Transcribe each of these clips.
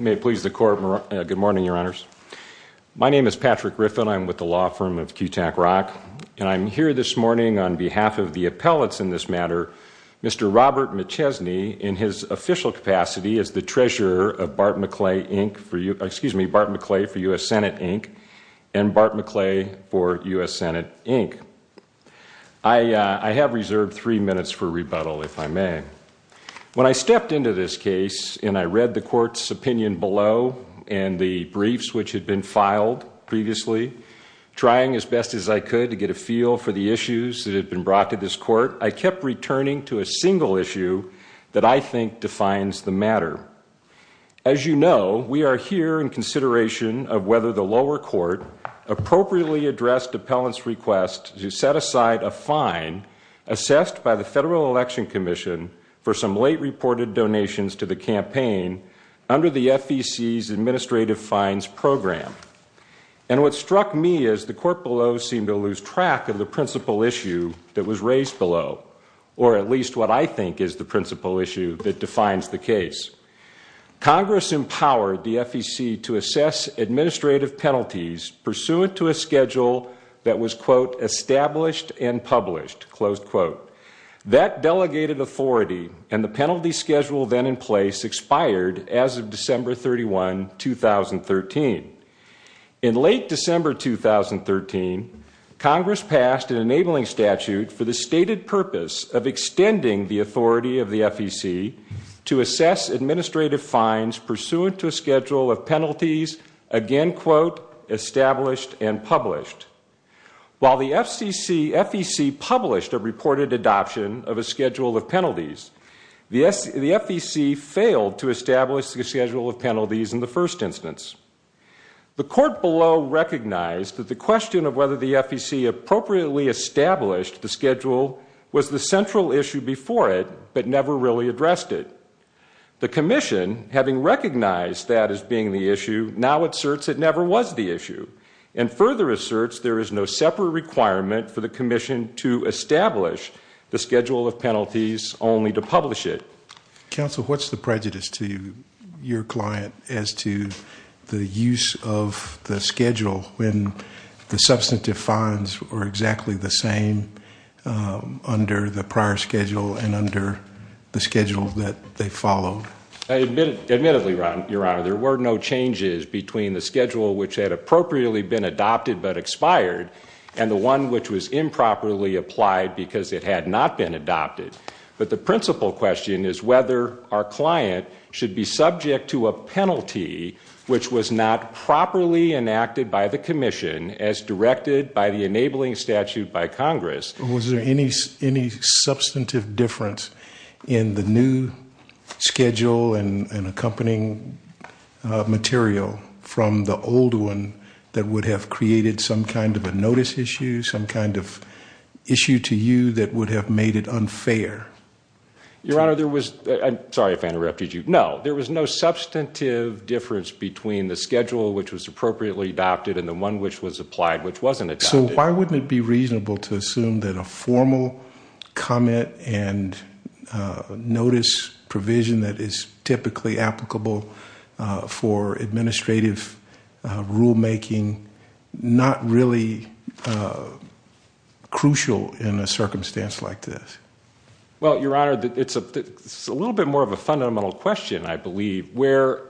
Good morning, Your Honors. My name is Patrick Griffin. I'm with the law firm of Kutak Rock, and I'm here this morning on behalf of the appellates in this matter, Mr. Robert McChesney, in his official capacity as the treasurer of Bart McClay for U.S. Senate, Inc., and Bart McClay for U.S. Senate, Inc. I have reserved three minutes for rebuttal, if I may. When I stepped into this case and I read the court's opinion below and the briefs which had been filed previously, trying as best as I could to get a feel for the issues that had been brought to this court, I kept returning to a single issue that I think defines the matter. As you know, we are here in consideration of whether the lower court appropriately addressed appellant's request to set aside a fine assessed by the Federal Election Commission for some late reported donations to the campaign under the FEC's administrative fines program. And what struck me is the court below seemed to lose track of the principal issue that was raised below, or at least what I think is the principal issue that defines the case. Congress empowered the FEC to assess administrative penalties pursuant to a schedule that was quote, established and published, close quote. That delegated authority and the penalty schedule then in place expired as of December 31, 2013. In late December 2013, Congress passed an enabling statute for the stated purpose of assess administrative fines pursuant to a schedule of penalties, again quote, established and published. While the FEC published a reported adoption of a schedule of penalties, the FEC failed to establish the schedule of penalties in the first instance. The court below recognized that the question of whether the FEC appropriately established the schedule was the central issue before it, but never really addressed it. The commission, having recognized that as being the issue, now asserts it never was the issue. And further asserts there is no separate requirement for the commission to establish the schedule of penalties, only to publish it. Council, what's the prejudice to your client as to the use of the schedule when the substantive fines were exactly the same under the prior schedule and under the schedule that they followed? Admittedly, your honor, there were no changes between the schedule which had appropriately been adopted but expired. And the one which was improperly applied because it had not been adopted. But the principle question is whether our client should be subject to a penalty which was not properly enacted by the commission as directed by the enabling statute by Congress. Was there any substantive difference in the new schedule and accompanying material from the old one that would have created some kind of a notice issue, some kind of issue to you that would have made it unfair? Your honor, there was, I'm sorry if I interrupted you. No, there was no substantive difference between the schedule which was appropriately adopted and the one which was applied which wasn't adopted. So why wouldn't it be reasonable to assume that a formal comment and notice provision that is typically applicable for administrative rule making not really crucial in a circumstance like this? Well, your honor, it's a little bit more of a fundamental question, I believe, where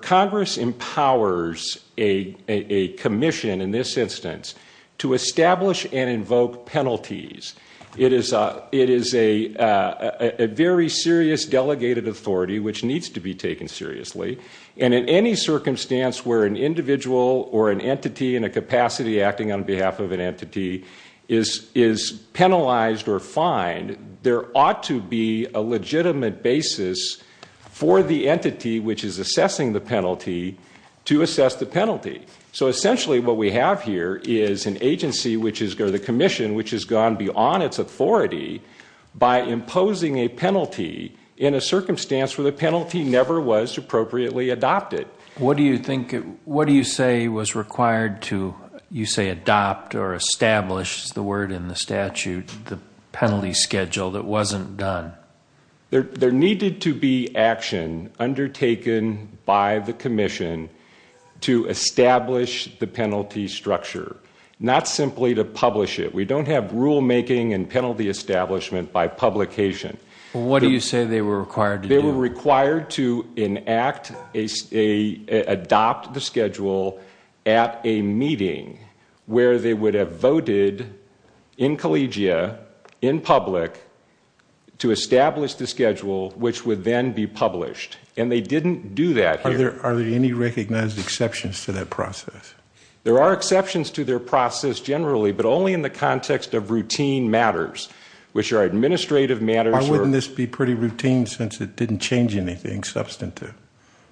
Congress empowers a commission, in this instance, to establish and invoke penalties. It is a very serious delegated authority which needs to be taken seriously. And in any circumstance where an individual or an entity in a capacity acting on behalf of an entity is penalized or fined, there ought to be a legitimate basis for the entity which is assessing the penalty to assess the penalty. So essentially what we have here is an agency or the commission which has gone beyond its authority by imposing a penalty in a circumstance where the penalty never was appropriately adopted. What do you think, what do you say was required to, you say, adopt or establish, is the word in the statute, the penalty schedule that wasn't done? There needed to be action undertaken by the commission to establish the penalty structure, not simply to publish it. We don't have rule making and penalty establishment by publication. What do you say they were required to do? They were required to enact, adopt the schedule at a meeting where they would have voted in collegia, in public, to establish the schedule which would then be published. And they didn't do that here. Are there any recognized exceptions to that process? There are exceptions to their process generally, but only in the context of routine matters, which are administrative matters. Why wouldn't this be pretty routine since it didn't change anything substantive?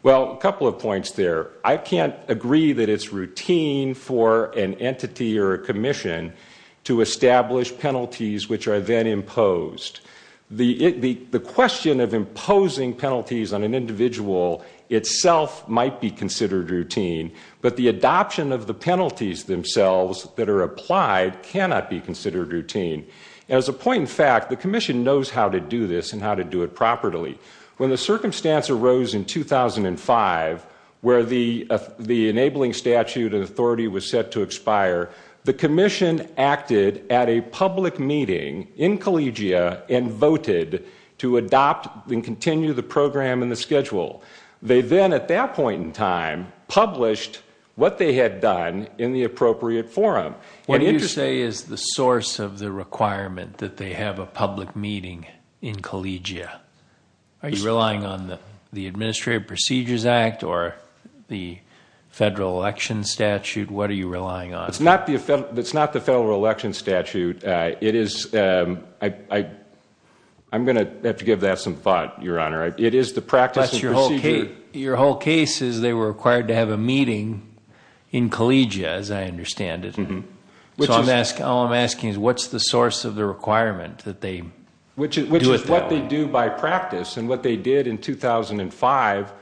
Well, a couple of points there. I can't agree that it's routine for an entity or a commission to establish penalties which are then imposed. The question of imposing penalties on an individual itself might be considered routine, but the adoption of the penalties themselves that are applied cannot be considered routine. As a point in fact, the commission knows how to do this and how to do it properly. When the circumstance arose in 2005 where the enabling statute and authority was set to expire, the commission acted at a public meeting in collegia and voted to adopt and continue the program and the schedule. They then, at that point in time, published what they had done in the appropriate forum. What do you say is the source of the requirement that they have a public meeting in collegia? Are you relying on the Administrative Procedures Act or the federal election statute? What are you relying on? It's not the federal election statute. I'm going to have to give that some thought, Your Honor. It is the practice of procedure. Your whole case is they were required to have a meeting in collegia, as I understand it. All I'm asking is what's the source of the requirement that they do it? What they do by practice and what they did in 2005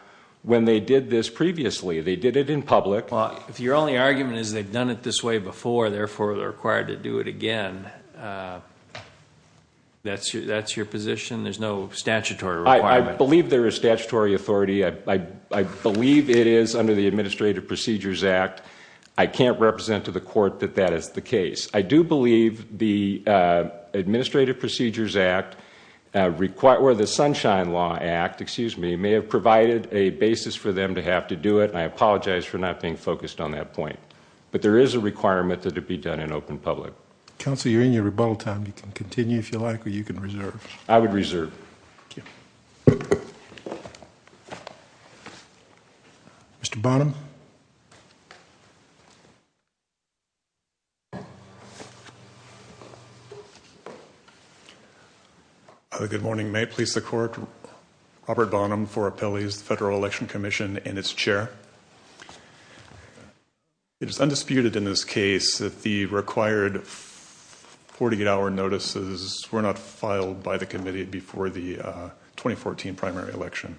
when they did this previously. They did it in public. Well, if your only argument is they've done it this way before, therefore they're required to do it again, that's your position? There's no statutory requirement? I believe there is statutory authority. I believe it is under the Administrative Procedures Act. I can't represent to the court that that is the case. I do believe the Administrative Procedures Act or the Sunshine Law Act, excuse me, may have provided a basis for them to have to do it. I apologize for not being focused on that point. But there is a requirement that it be done in open public. Counsel, you're in your rebuttal time. You can continue if you like or you can reserve. I would reserve. Mr. Bonham. Good morning. May it please the court, Robert Bonham for appellees, the Federal Election Commission and its chair. It is undisputed in this case that the required 48 hour notices were not filed by the committee before the 2014 primary election.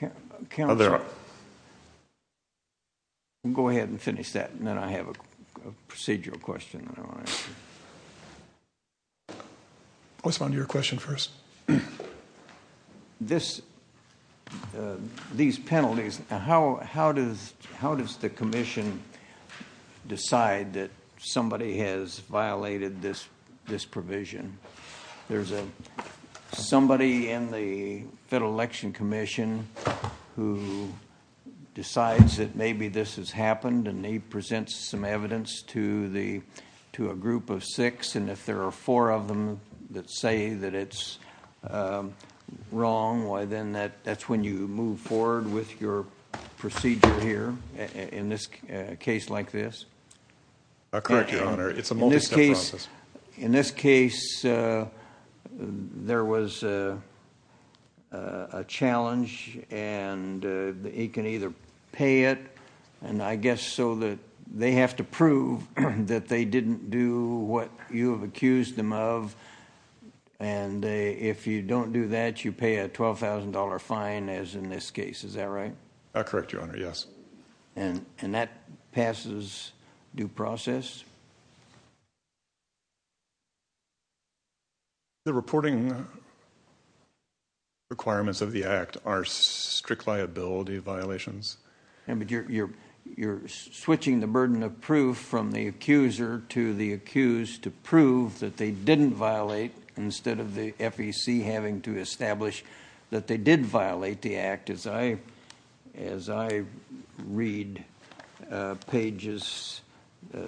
Go ahead and finish that and then I have a procedural question. I'll respond to your question first. These penalties, how does the commission decide that somebody has violated this provision? There's somebody in the Federal Election Commission who decides that maybe this has happened and they present some evidence to a group of six. And if there are four of them that say that it's wrong, that's when you move forward with your procedure here in a case like this? Correct, Your Honor. It's a multistep process. In this case, there was a challenge and he can either pay it and I guess so that they have to prove that they didn't do what you have accused them of. And if you don't do that, you pay a $12,000 fine as in this case. Is that right? Correct, Your Honor. Yes. And that passes due process? Yes. The reporting requirements of the act are strict liability violations. You're switching the burden of proof from the accuser to the accused to prove that they didn't violate instead of the FEC having to establish that they did violate the act. As I read pages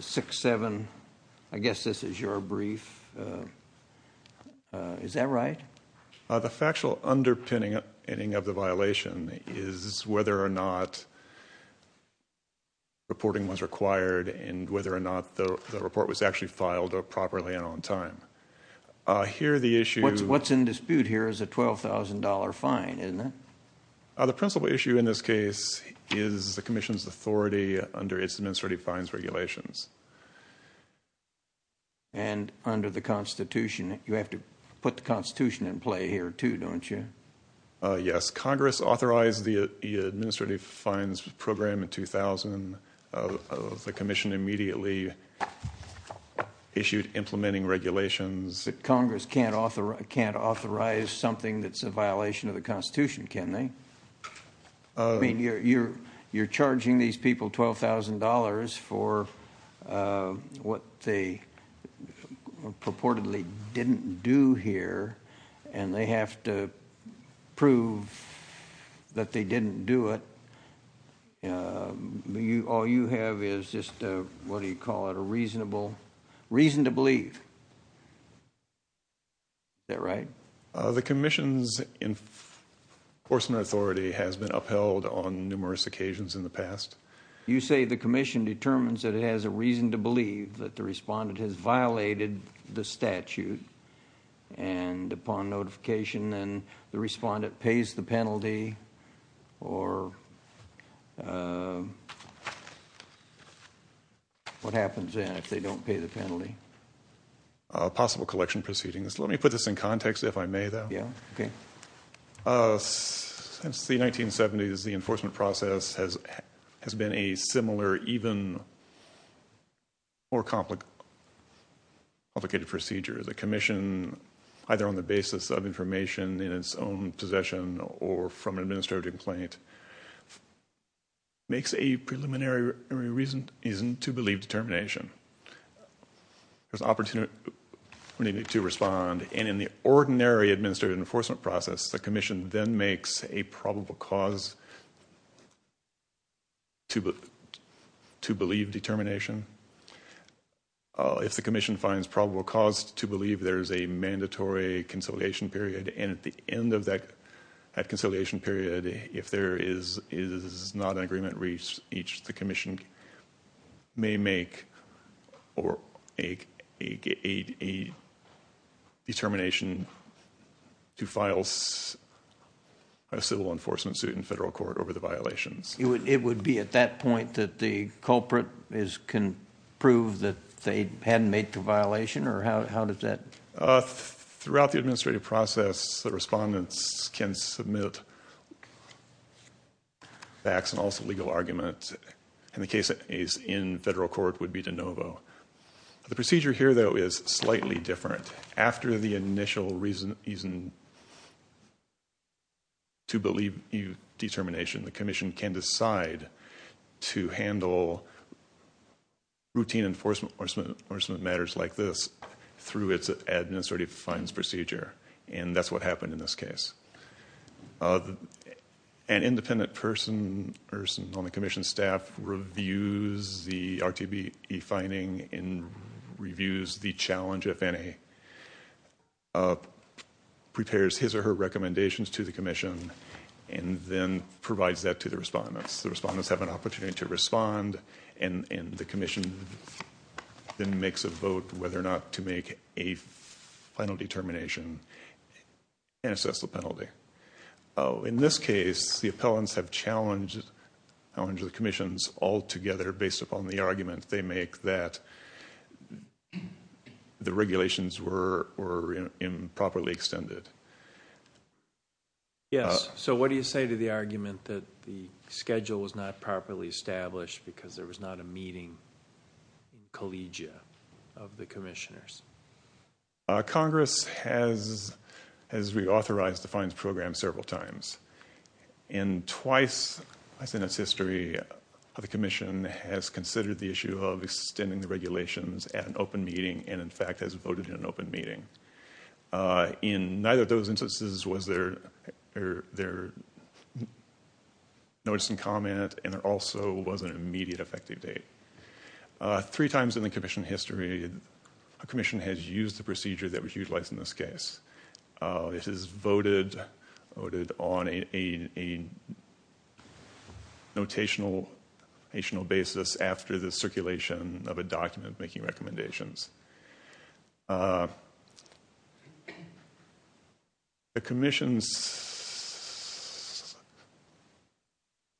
six, seven, I guess this is your brief. Is that right? The factual underpinning of the violation is whether or not reporting was required and whether or not the report was actually filed properly and on time. Here the issue... What's in dispute here is a $12,000 fine, isn't it? The principal issue in this case is the commission's authority under its administrative fines regulations. And under the Constitution, you have to put the Constitution in play here too, don't you? Yes, Congress authorized the administrative fines program in 2000. The commission immediately issued implementing regulations. Congress can't authorize something that's a violation of the Constitution, can they? I mean, you're charging these people $12,000 for what they purportedly didn't do here and they have to prove that they didn't do it. All you have is just, what do you call it, a reason to believe. Is that right? The commission's enforcement authority has been upheld on numerous occasions in the past. You say the commission determines that it has a reason to believe that the respondent has violated the statute and upon notification then the respondent pays the penalty or what happens then if they don't pay the penalty? Possible collection proceedings. Let me put this in context, if I may, though. Since the 1970s, the enforcement process has been a similar, even more complicated procedure. The commission, either on the basis of information in its own possession or from an administrative complaint, makes a preliminary reason to believe determination. There's an opportunity to respond and in the ordinary administrative enforcement process, the commission then makes a probable cause to believe determination. If the commission finds probable cause to believe there is a mandatory conciliation period and at the end of that conciliation period, if there is not an agreement reached, the commission may make a determination to file a civil enforcement suit in federal court over the violations. It would be at that point that the culprit can prove that they hadn't made the violation? Throughout the administrative process, the respondents can submit facts and also legal arguments and the case is in federal court would be de novo. The procedure here, though, is slightly different. After the initial reason to believe determination, the commission can decide to handle routine enforcement matters like this through its administrative fines procedure and that's what happened in this case. An independent person on the commission staff reviews the RTE finding and reviews the challenge, if any, prepares his or her recommendations to the commission and then provides that to the respondents. The respondents have an opportunity to respond and the commission then makes a vote whether or not to make a final determination and assess the penalty. In this case, the appellants have challenged the commissions altogether based upon the argument they make that the regulations were improperly extended. Yes, so what do you say to the argument that the schedule was not properly established because there was not a meeting collegia of the commissioners? Congress has reauthorized the fines program several times and twice in its history, the commission has considered the issue of extending the regulations at an open meeting and, in fact, has voted in an open meeting. In neither of those instances was there notice and comment and there also was an immediate effective date. Three times in the commission history, a commission has used the procedure that was utilized in this case. This is voted on a notational basis after the circulation of a document making recommendations. The commission's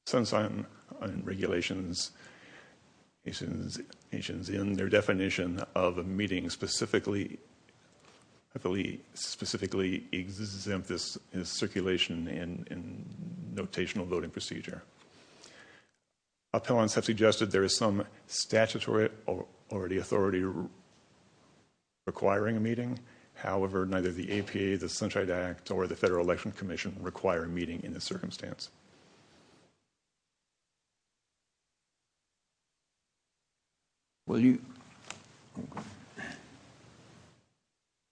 sense on regulations in their definition of a meeting specifically exempt this in circulation in notational voting procedure. Appellants have suggested there is some statutory or the authority requiring a meeting however, neither the APA, the Sunshine Act, or the Federal Election Commission require a meeting in this circumstance. Will you?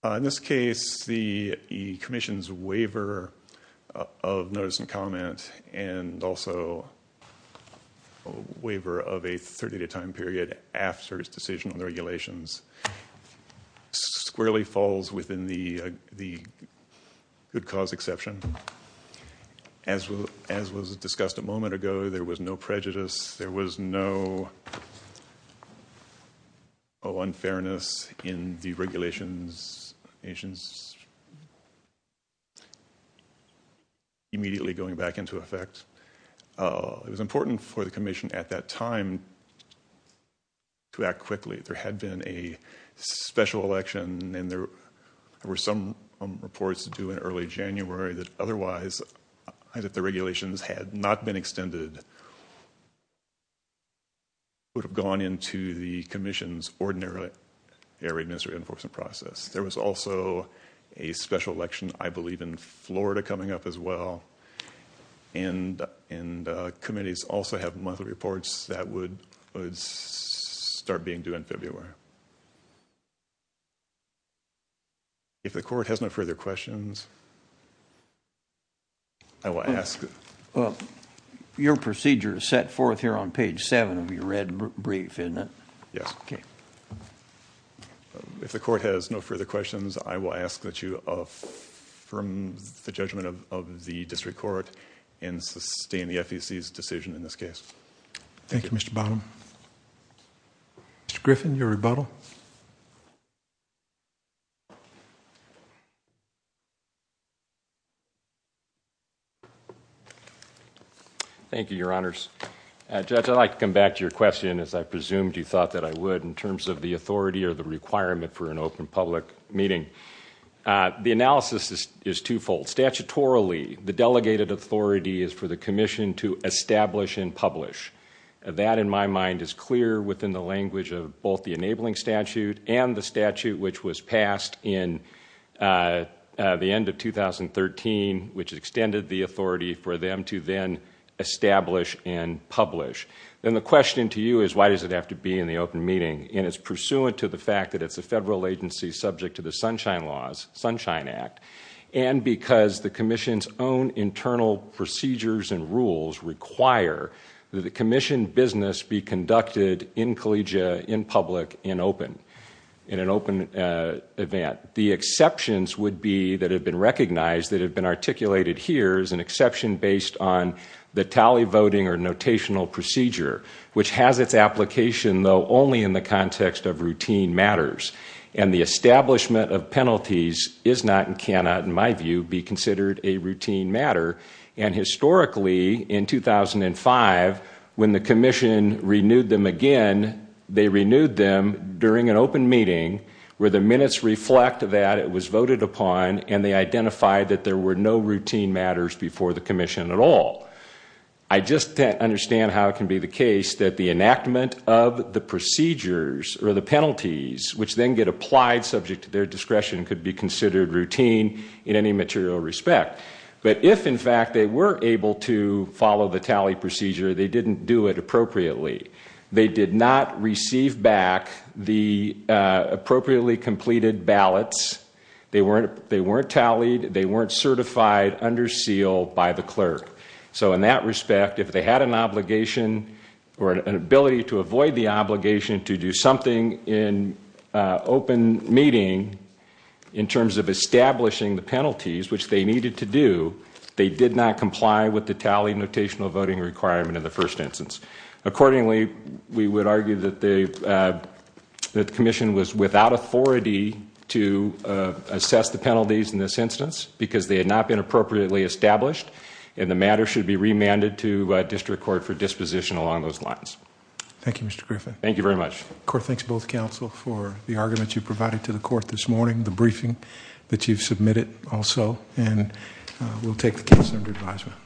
In this case, the commission's waiver of notice and comment and also waiver of a 30-day time period after its decision on the regulations squarely falls within the good cause exception. As was discussed a moment ago, there was no prejudice. There was no unfairness in the regulations immediately going back into effect. It was important for the commission at that time to act quickly. There had been a special election and there were some reports to do in early January that otherwise, if the regulations had not been extended, would have gone into the commission's ordinary air administrative enforcement process. There was also a special election, I believe in Florida, coming up as well. And committees also have monthly reports that would start being due in February. If the court has no further questions, I will ask. Your procedure is set forth here on page 7 of your red brief, isn't it? Yes. If the court has no further questions, I will ask that you from the judgment of the district court and sustain the FEC's decision in this case. Thank you, Mr. Bottom. Mr. Griffin, your rebuttal. Thank you, your honors. Judge, I'd like to come back to your question as I presumed you thought that I would in terms of the authority or the requirement for an open public meeting. The analysis is twofold. Statutorily, the delegated authority is for the commission to establish and publish. That in my mind is clear within the language of both the enabling statute and the statute which was passed in the end of 2013, which extended the authority for them to then establish and publish. Then the question to you is why does it have to be in the open meeting? It's pursuant to the fact that it's a federal agency subject to the Sunshine Laws, Sunshine Act, and because the commission's own internal procedures and rules require that the commission business be conducted in collegiate, in public, in open, in an open event. The exceptions would be that have been recognized that have been articulated here is an exception based on the tally voting or notational procedure, which has its application though only in the context of routine matters. The establishment of penalties is not and cannot, in my view, be considered a routine matter. Historically, in 2005, when the commission renewed them again, they renewed them during an open meeting where the minutes reflect that it was voted upon and they identified that there were no routine matters before the commission at all. I just don't understand how it can be the case that the enactment of the procedures or the penalties, which then get applied subject to their discretion, could be considered routine in any material respect. If, in fact, they were able to follow the tally procedure, they didn't do it appropriately. They did not receive back the appropriately completed ballots. They weren't tallied. They weren't certified under seal by the clerk. In that respect, if they had an obligation or an ability to avoid the obligation to do something in open meeting in terms of establishing the penalties, which they needed to do, they did not comply with the tally notational voting requirement in the first instance. Accordingly, we would argue that the commission was without authority to assess the penalties in this instance because they had not been appropriately established and the matter should be remanded to district court for disposition along those lines. Thank you, Mr. Griffin. Thank you very much. The court thanks both counsel for the argument you provided to the court this morning, the briefing that you've submitted also, and we'll take the case under advisement.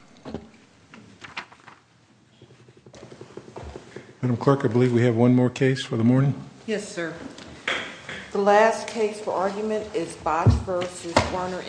Madam clerk, I believe we have one more case for the morning. Yes, sir. The last case for argument is Box versus Werner Enterprises.